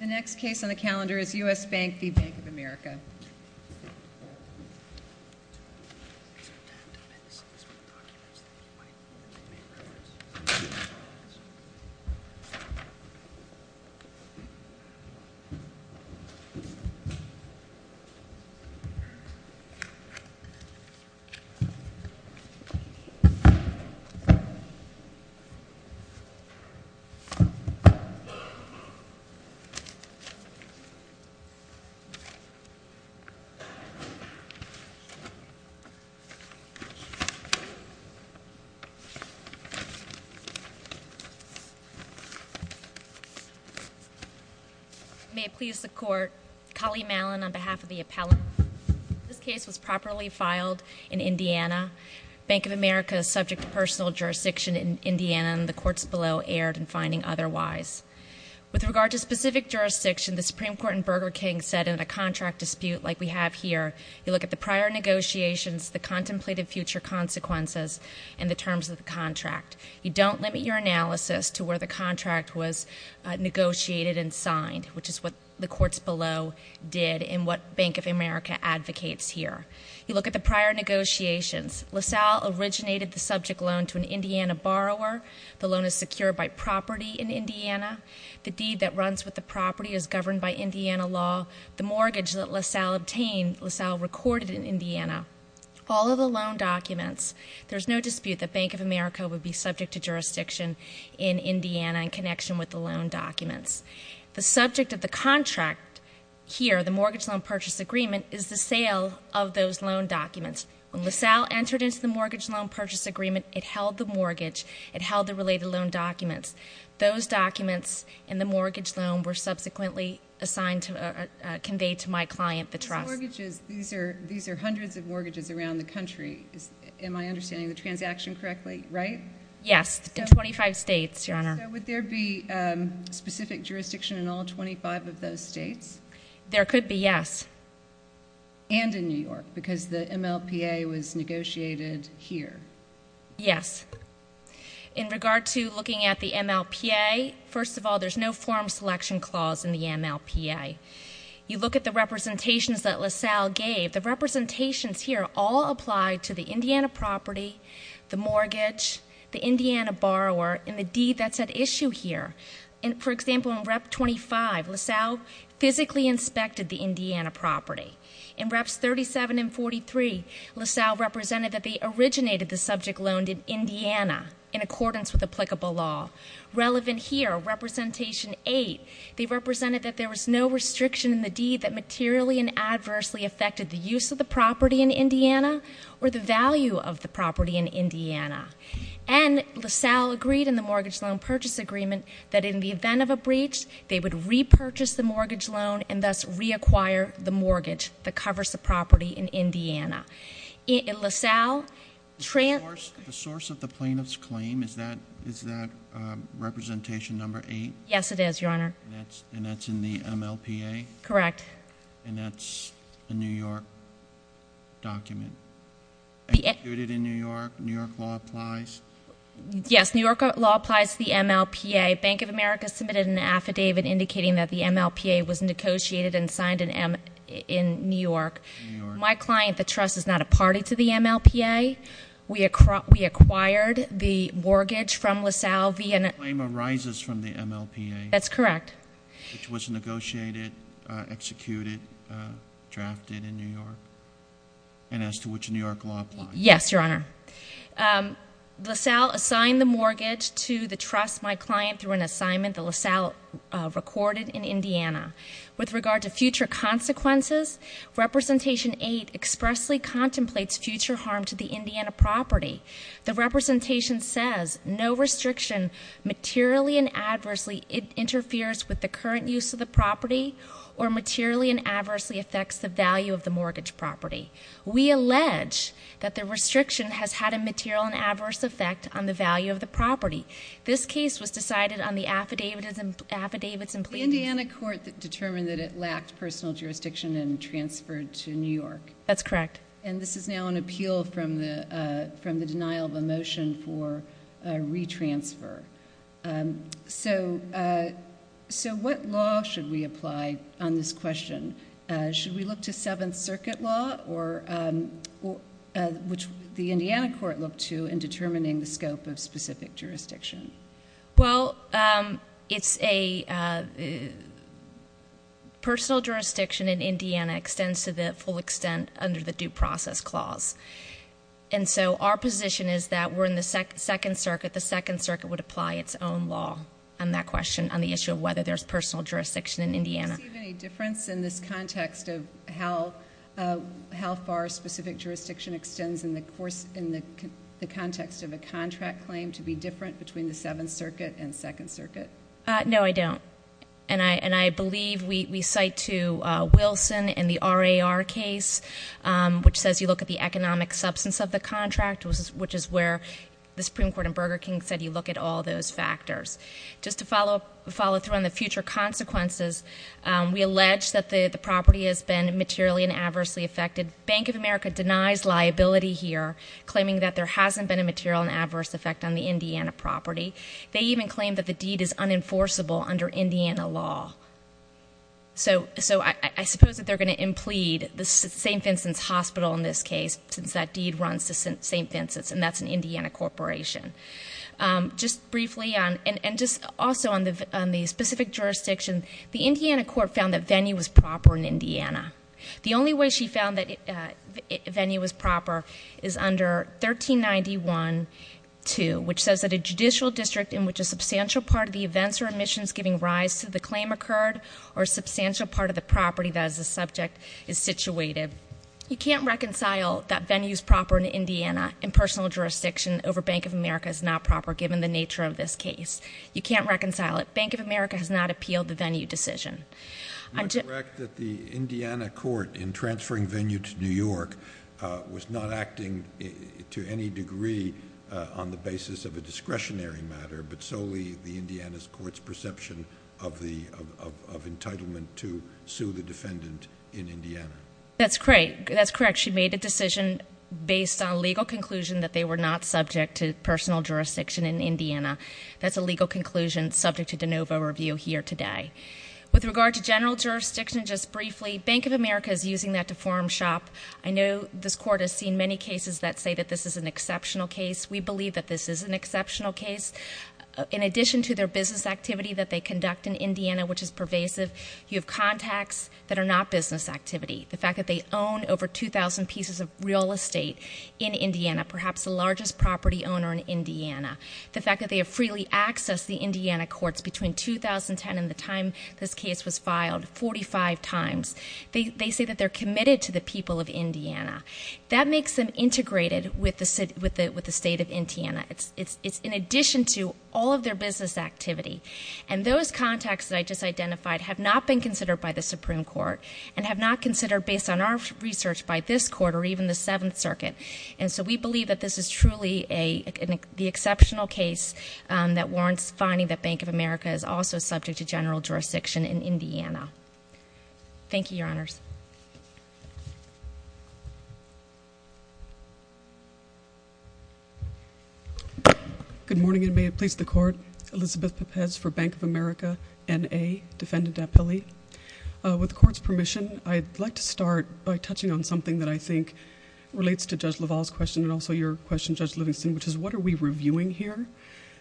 The next case on the calendar is U.S. Bank v. Bank of America. May it please the Court, Kali Mallon on behalf of the appellate. This case was properly filed in Indiana. Bank of America is subject to personal jurisdiction in Indiana and the courts below erred in finding otherwise. With regard to specific jurisdiction, the Supreme Court in Burger King said in a contract dispute like we have here, you look at the prior negotiations, the contemplated future consequences, and the terms of the contract. You don't limit your analysis to where the contract was negotiated and signed, which is what the courts below did and what Bank of America advocates here. You look at the prior negotiations. LaSalle originated the subject loan to an Indiana borrower. The loan is secured by property in Indiana. The deed that runs with the property is governed by Indiana law. The mortgage that LaSalle obtained, LaSalle recorded in Indiana. All of the loan documents, there's no dispute that Bank of America would be subject to jurisdiction in Indiana in connection with the loan documents. The subject of the contract here, the mortgage loan purchase agreement, is the sale of those loan documents. When LaSalle entered into the mortgage loan purchase agreement, it held the mortgage. It held the related loan documents. Those documents in the mortgage loan were subsequently assigned to, conveyed to my client, the trust. So mortgages, these are hundreds of mortgages around the country, am I understanding the transaction correctly, right? Yes, in 25 states, Your Honor. So would there be specific jurisdiction in all 25 of those states? There could be, yes. And in New York, because the MLPA was negotiated here. Yes. In regard to looking at the MLPA, first of all, there's no form selection clause in the MLPA. You look at the representations that LaSalle gave. The representations here all apply to the Indiana property, the mortgage, the Indiana borrower, and the deed that's at issue here. For example, in Rep. 25, LaSalle physically inspected the Indiana property. In Reps. 37 and 43, LaSalle represented that they originated the subject loaned in Indiana in accordance with applicable law. Relevant here, Representation 8, they represented that there was no restriction in the deed that materially and adversely affected the use of the property in Indiana or the value of the property in Indiana. And LaSalle agreed in the Mortgage Loan Purchase Agreement that in the event of a breach, they would repurchase the mortgage loan and thus reacquire the mortgage that covers the property in Indiana. LaSalle trans- The source of the plaintiff's claim, is that Representation 8? Yes, it is, Your Honor. And that's in the MLPA? Correct. And that's a New York document? Executed in New York? New York law applies? Yes, New York law applies to the MLPA. Bank of America submitted an affidavit indicating that the MLPA was negotiated and signed in New York. My client, the trust, is not a party to the MLPA. We acquired the mortgage from LaSalle via- The claim arises from the MLPA. That's correct. Which was negotiated, executed, drafted in New York, and as to which New York law applies. Yes, Your Honor. LaSalle assigned the mortgage to the trust, my client, through an assignment that LaSalle recorded in Indiana. With regard to future consequences, Representation 8 expressly contemplates future harm to the Indiana property. The representation says, no restriction materially and adversely interferes with the current use of the property, or materially and adversely affects the value of the mortgage property. We allege that the restriction has had a material and adverse effect on the value of the property. This case was decided on the affidavits and plaintiffs- The Indiana court determined that it lacked personal jurisdiction and transferred to New York. That's correct. And this is now an appeal from the denial of a motion for a re-transfer. So what law should we apply on this question? Should we look to Seventh Circuit law, which the Indiana court looked to in determining the scope of specific jurisdiction? Well, personal jurisdiction in Indiana extends to the full extent under the Due Process Clause. And so our position is that we're in the Second Circuit. The Second Circuit would apply its own law on that question, on the issue of whether there's personal jurisdiction in Indiana. Do you see any difference in this context of how far specific jurisdiction extends in the context of a contract claim to be different between the Seventh Circuit and Second Circuit? No, I don't. And I believe we cite to Wilson in the RAR case, which says you look at the economic substance of the contract, which is where the Supreme Court in Burger King said you look at all those factors. Just to follow through on the future consequences, we allege that the property has been materially and adversely affected. Bank of America denies liability here, claiming that there hasn't been a material and adverse effect on the Indiana property. They even claim that the deed is unenforceable under Indiana law. So I suppose that they're going to implead the St. Vincent's Hospital in this case, since that deed runs to St. Vincent's, and that's an Indiana corporation. Just briefly, and just also on the specific jurisdiction, the Indiana court found that Venny was proper in Indiana. The only way she found that Venny was proper is under 1391.2, which says that a judicial district in which a substantial part of the events or admissions giving rise to the claim occurred or a substantial part of the property that is the subject is situated. You can't reconcile that Venny is proper in Indiana in personal jurisdiction over Bank of America as not proper, given the nature of this case. You can't reconcile it. Bank of America has not appealed the Venny decision. Am I correct that the Indiana court, in transferring Venny to New York, was not acting to any degree on the basis of a discretionary matter, but solely the Indiana court's perception of entitlement to sue the defendant in Indiana? That's correct. She made a decision based on a legal conclusion that they were not subject to personal jurisdiction in Indiana. That's a legal conclusion subject to de novo review here today. With regard to general jurisdiction, just briefly, Bank of America is using that to form shop. I know this court has seen many cases that say that this is an exceptional case. We believe that this is an exceptional case. In addition to their business activity that they conduct in Indiana, which is pervasive, you have contacts that are not business activity. The fact that they own over 2,000 pieces of real estate in Indiana, perhaps the largest property owner in Indiana. The fact that they have freely accessed the Indiana courts between 2010 and the time this case was filed, 45 times. They say that they're committed to the people of Indiana. That makes them integrated with the state of Indiana. It's in addition to all of their business activity. And those contacts that I just identified have not been considered by the Supreme Court and have not considered, based on our research, by this court or even the Seventh Circuit. And so we believe that this is truly the exceptional case that warrants finding that Bank of America is also subject to general jurisdiction in Indiana. Thank you, Your Honors. Good morning, and may it please the Court. Elizabeth Pepez for Bank of America, N.A., defendant at Pele. With the Court's permission, I'd like to start by touching on something that I think relates to Judge LaValle's question and also your question, Judge Livingston, which is what are we reviewing here?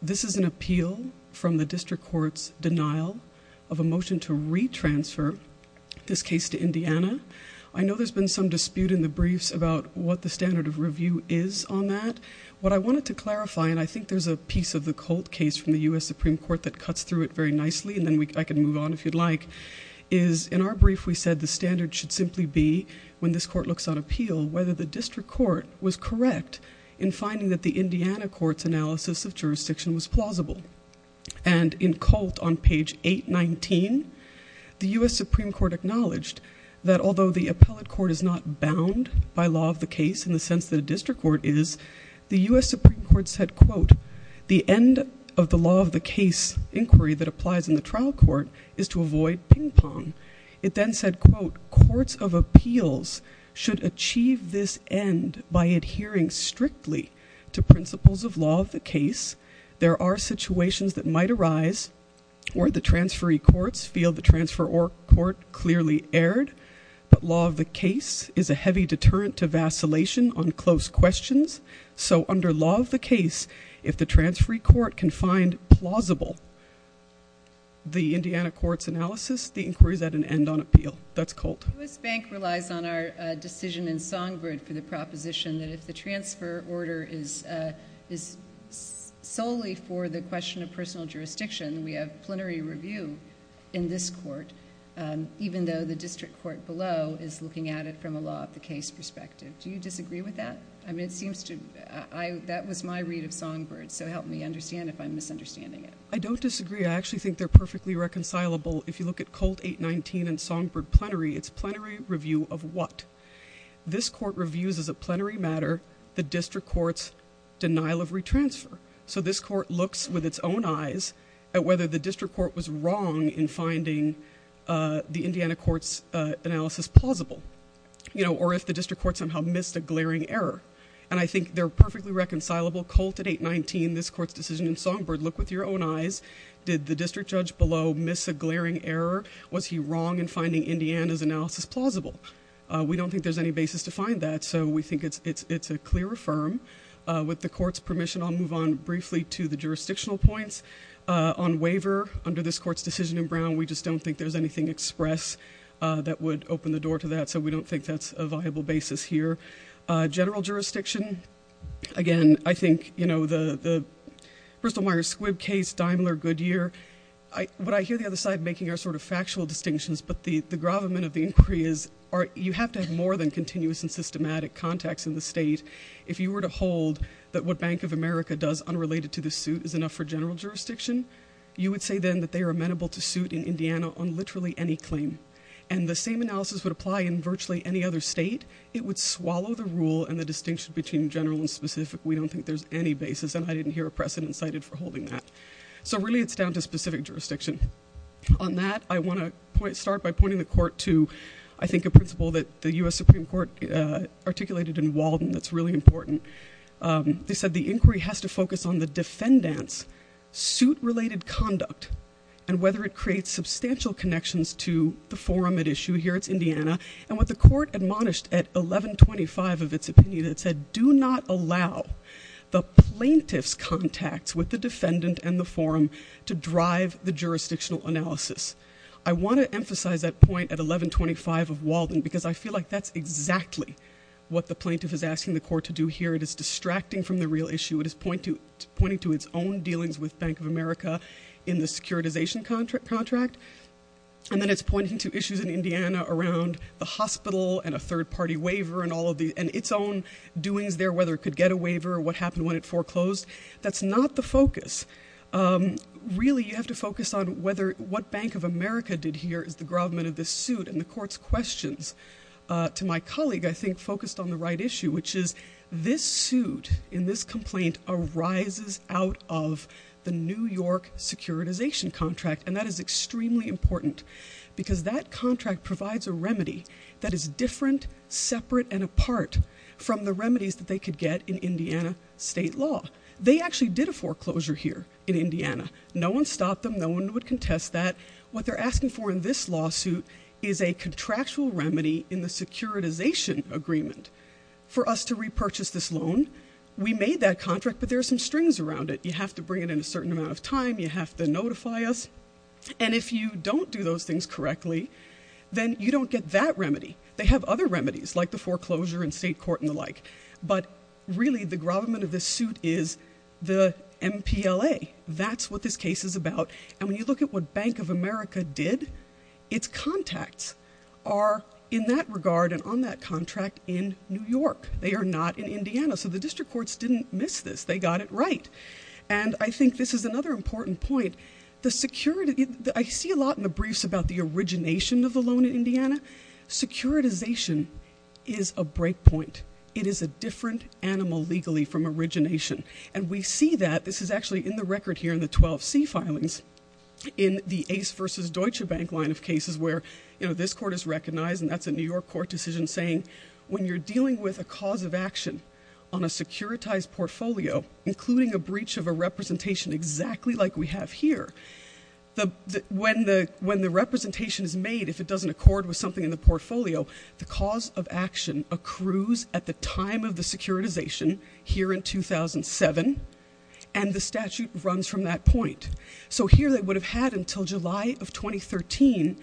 This is an appeal from the district court's denial of a motion to re-transfer this case to Indiana. I know there's been some dispute in the briefs about what the standard of review is on that. What I wanted to clarify, and I think there's a piece of the Colt case from the U.S. Supreme Court that cuts through it very nicely, and then I can move on if you'd like, is in our brief we said the standard should simply be, when this court looks on appeal, whether the district court was correct in finding that the Indiana court's analysis of jurisdiction was plausible. And in Colt, on page 819, the U.S. Supreme Court acknowledged that although the appellate court is not bound by law of the case in the sense that a district court is, the U.S. Supreme Court said, quote, the end of the law of the case inquiry that applies in the trial court is to avoid ping-pong. It then said, quote, courts of appeals should achieve this end by adhering strictly to principles of law of the case. There are situations that might arise where the transferee courts feel the transferor court clearly erred, but law of the case is a heavy deterrent to vacillation on close questions. So under law of the case, if the transferee court can find plausible the Indiana court's analysis, the inquiry is at an end on appeal. That's Colt. U.S. Bank relies on our decision in Songbird for the proposition that if the transfer order is solely for the question of personal jurisdiction, we have plenary review in this court, even though the district court below is looking at it from a law of the case perspective. Do you disagree with that? I mean, it seems to me that was my read of Songbird, so help me understand if I'm misunderstanding it. I don't disagree. I actually think they're perfectly reconcilable. If you look at Colt 819 and Songbird plenary, it's plenary review of what? This court reviews as a plenary matter the district court's denial of retransfer. So this court looks with its own eyes at whether the district court was wrong in finding the Indiana court's analysis plausible, you know, or if the district court somehow missed a glaring error. And I think they're perfectly reconcilable. Colt at 819, this court's decision in Songbird, look with your own eyes. Did the district judge below miss a glaring error? Was he wrong in finding Indiana's analysis plausible? We don't think there's any basis to find that, so we think it's a clear affirm. With the court's permission, I'll move on briefly to the jurisdictional points. On waiver under this court's decision in Brown, we just don't think there's anything express that would open the door to that. So we don't think that's a viable basis here. General jurisdiction, again, I think, you know, the Bristol-Myers-Squibb case, Daimler-Goodyear, what I hear the other side making are sort of factual distinctions, but the gravamen of the inquiry is you have to have more than continuous and systematic contacts in the state. If you were to hold that what Bank of America does unrelated to this suit is enough for general jurisdiction, you would say then that they are amenable to suit in Indiana on literally any claim. And the same analysis would apply in virtually any other state. It would swallow the rule and the distinction between general and specific. We don't think there's any basis, and I didn't hear a precedent cited for holding that. So really it's down to specific jurisdiction. On that, I want to start by pointing the court to, I think, a principle that the U.S. Supreme Court articulated in Walden that's really important. They said the inquiry has to focus on the defendant's suit-related conduct and whether it creates substantial connections to the forum at issue. Here it's Indiana. And what the court admonished at 1125 of its opinion, it said, do not allow the plaintiff's contacts with the defendant and the forum to drive the jurisdictional analysis. I want to emphasize that point at 1125 of Walden because I feel like that's exactly what the plaintiff is asking the court to do here. It is distracting from the real issue. It is pointing to its own dealings with Bank of America in the securitization contract. And then it's pointing to issues in Indiana around the hospital and a third-party waiver and all of the – and its own doings there, whether it could get a waiver, what happened when it foreclosed. That's not the focus. Really, you have to focus on what Bank of America did here as the government of this suit. And the court's questions to my colleague, I think, focused on the right issue, which is this suit in this complaint arises out of the New York securitization contract. And that is extremely important because that contract provides a remedy that is different, separate, and apart from the remedies that they could get in Indiana state law. They actually did a foreclosure here in Indiana. No one stopped them. No one would contest that. What they're asking for in this lawsuit is a contractual remedy in the securitization agreement for us to repurchase this loan. We made that contract, but there are some strings around it. You have to bring it in a certain amount of time. You have to notify us. And if you don't do those things correctly, then you don't get that remedy. They have other remedies, like the foreclosure in state court and the like. But really, the government of this suit is the MPLA. That's what this case is about. And when you look at what Bank of America did, its contacts are in that regard and on that contract in New York. They are not in Indiana. So the district courts didn't miss this. They got it right. And I think this is another important point. I see a lot in the briefs about the origination of the loan in Indiana. Securitization is a breakpoint. It is a different animal legally from origination. And we see that. This is actually in the record here in the 12C filings in the Ace versus Deutsche Bank line of cases where this court is recognized, and that's a New York court decision saying when you're dealing with a cause of action on a securitized portfolio, including a breach of a representation exactly like we have here, when the representation is made, if it doesn't accord with something in the portfolio, the cause of action accrues at the time of the securitization here in 2007, and the statute runs from that point. So here they would have had until July of 2013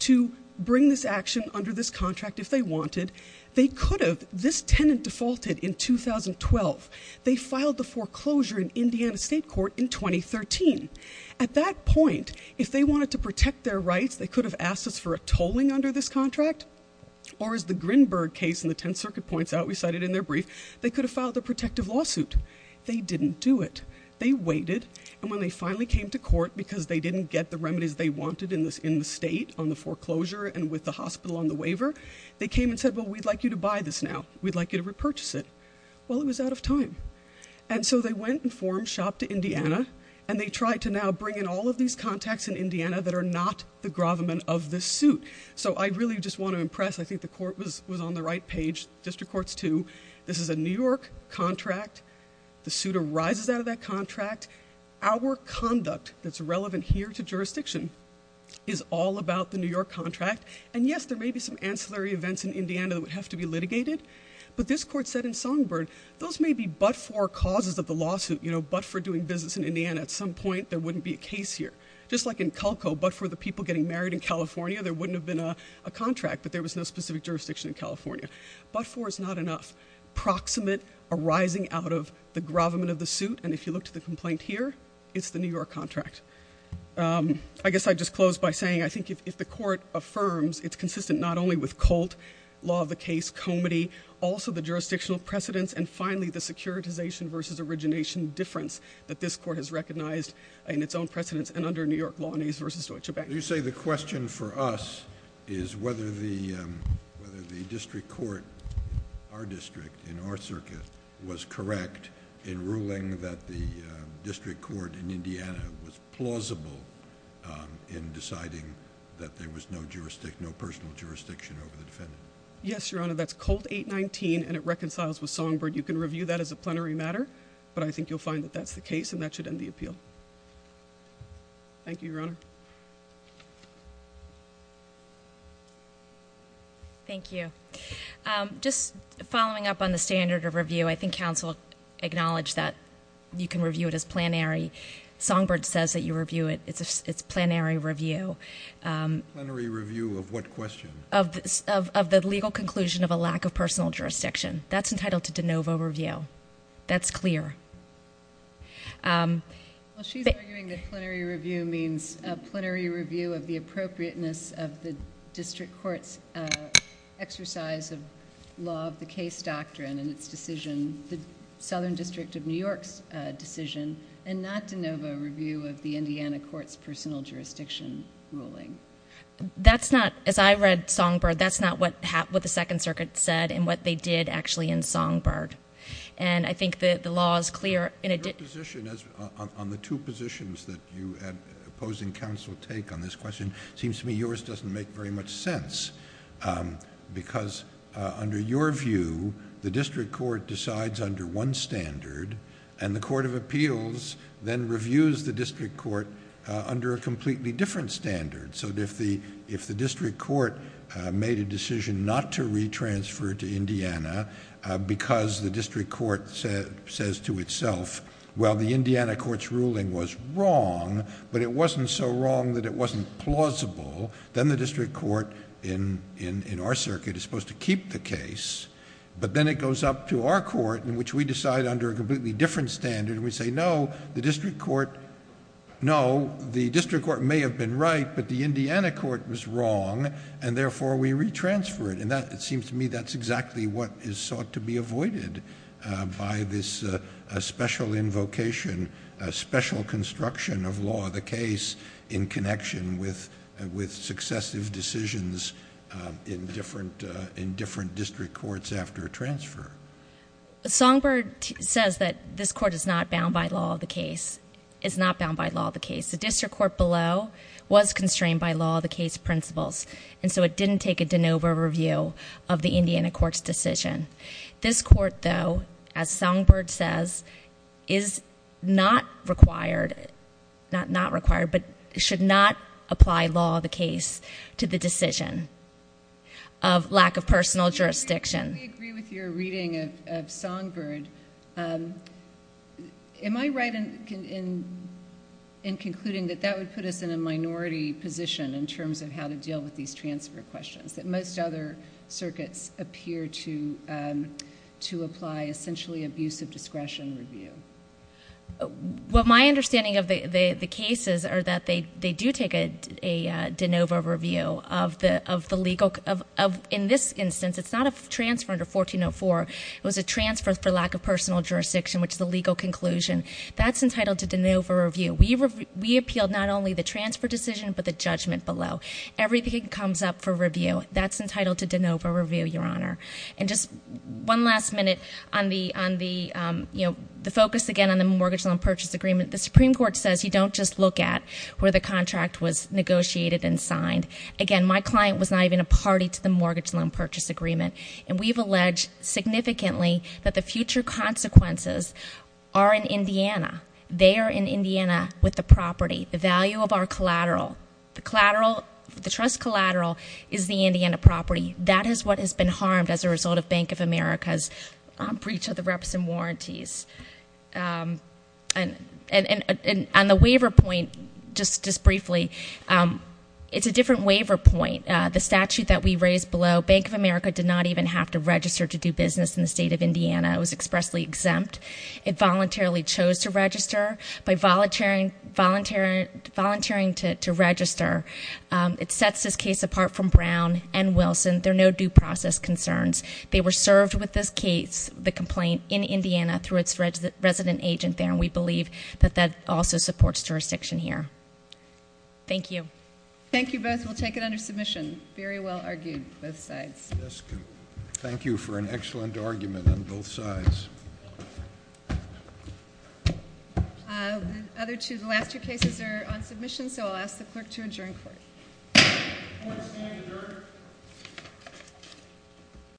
to bring this action under this contract if they wanted. They could have. This tenant defaulted in 2012. They filed the foreclosure in Indiana State Court in 2013. At that point, if they wanted to protect their rights, they could have asked us for a tolling under this contract, or as the Grinberg case in the Tenth Circuit points out, we cited in their brief, they could have filed a protective lawsuit. They didn't do it. They waited. And when they finally came to court because they didn't get the remedies they wanted in the state on the foreclosure and with the hospital on the waiver, they came and said, well, we'd like you to buy this now. We'd like you to repurchase it. Well, it was out of time. And so they went and formed shop to Indiana, and they tried to now bring in all of these contacts in Indiana that are not the grovement of this suit. So I really just want to impress, I think the court was on the right page, district courts too, this is a New York contract. The suit arises out of that contract. Our conduct that's relevant here to jurisdiction is all about the New York contract. And yes, there may be some ancillary events in Indiana that would have to be litigated. But this court said in Songbird, those may be but for causes of the lawsuit, but for doing business in Indiana. At some point, there wouldn't be a case here. Just like in Culco, but for the people getting married in California, there wouldn't have been a contract, but there was no specific jurisdiction in California. But for is not enough. Proximate arising out of the grovement of the suit, and if you look to the complaint here, it's the New York contract. I guess I'd just close by saying, I think if the court affirms, it's consistent not only with Colt, law of the case, Comity, also the jurisdictional precedence, and finally the securitization versus origination difference that this court has recognized in its own precedence and under New York law and age versus Deutsche Bank. You say the question for us is whether the whether the district court. Our district in our circuit was correct in ruling that the district court in Indiana was plausible in deciding that there was no jurisdiction, no personal jurisdiction over the defendant. Yes, Your Honor. That's called 819 and it reconciles with Songbird. You can review that as a plenary matter, but I think you'll find that that's the case and that should end the appeal. Thank you, Your Honor. Thank you. Just following up on the standard of review, I think counsel acknowledge that you can review it as plenary. Songbird says that you review it. It's a plenary review. Plenary review of what question? Of the legal conclusion of a lack of personal jurisdiction. That's entitled to de novo review. That's clear. She's arguing that plenary review means a plenary review of the appropriateness of the district court's exercise of law of the case doctrine and its decision. The Southern District of New York's decision and not de novo review of the Indiana court's personal jurisdiction ruling. That's not as I read Songbird. That's not what happened with the Second Circuit said and what they did actually in Songbird. I think the law is clear. Your position on the two positions that you and opposing counsel take on this question seems to me yours doesn't make very much sense. Because under your view, the district court decides under one standard and the court of appeals then reviews the district court under a completely different standard. If the district court made a decision not to re-transfer to Indiana because the district court says to itself, well, the Indiana court's ruling was wrong, but it wasn't so wrong that it wasn't plausible, then the district court in our circuit is supposed to keep the case. But then it goes up to our court in which we decide under a completely different standard and we say, no, the district court may have been right, but the Indiana court was wrong, and therefore we re-transfer it. It seems to me that's exactly what is sought to be avoided by this special invocation, special construction of law of the case in connection with successive decisions in different district courts after a transfer. Songbird says that this court is not bound by law of the case. It's not bound by law of the case. The district court below was constrained by law of the case principles, and so it didn't take a de novo review of the Indiana court's decision. This court, though, as Songbird says, is not required, not required, but should not apply law of the case to the decision of lack of personal jurisdiction. I agree with your reading of Songbird. Am I right in concluding that that would put us in a minority position in terms of how to deal with these transfer questions, that most other circuits appear to apply essentially abuse of discretion review? Well, my understanding of the cases are that they do take a de novo review of the legal – in this instance, it's not a transfer under 1404. It was a transfer for lack of personal jurisdiction, which is a legal conclusion. That's entitled to de novo review. We appealed not only the transfer decision but the judgment below. Everything comes up for review. That's entitled to de novo review, Your Honor. And just one last minute on the focus, again, on the mortgage loan purchase agreement. The Supreme Court says you don't just look at where the contract was negotiated and signed. Again, my client was not even a party to the mortgage loan purchase agreement, and we've alleged significantly that the future consequences are in Indiana. They are in Indiana with the property, the value of our collateral. The trust collateral is the Indiana property. That is what has been harmed as a result of Bank of America's breach of the reps and warranties. And on the waiver point, just briefly, it's a different waiver point. The statute that we raised below, Bank of America did not even have to register to do business in the state of Indiana. It was expressly exempt. It voluntarily chose to register. By volunteering to register, it sets this case apart from Brown and Wilson. There are no due process concerns. They were served with this case, the complaint, in Indiana through its resident agent there, and we believe that that also supports jurisdiction here. Thank you. Thank you both. We'll take it under submission. Very well argued, both sides. Thank you for an excellent argument on both sides. The last two cases are on submission, so I'll ask the clerk to adjourn court. Court is adjourned.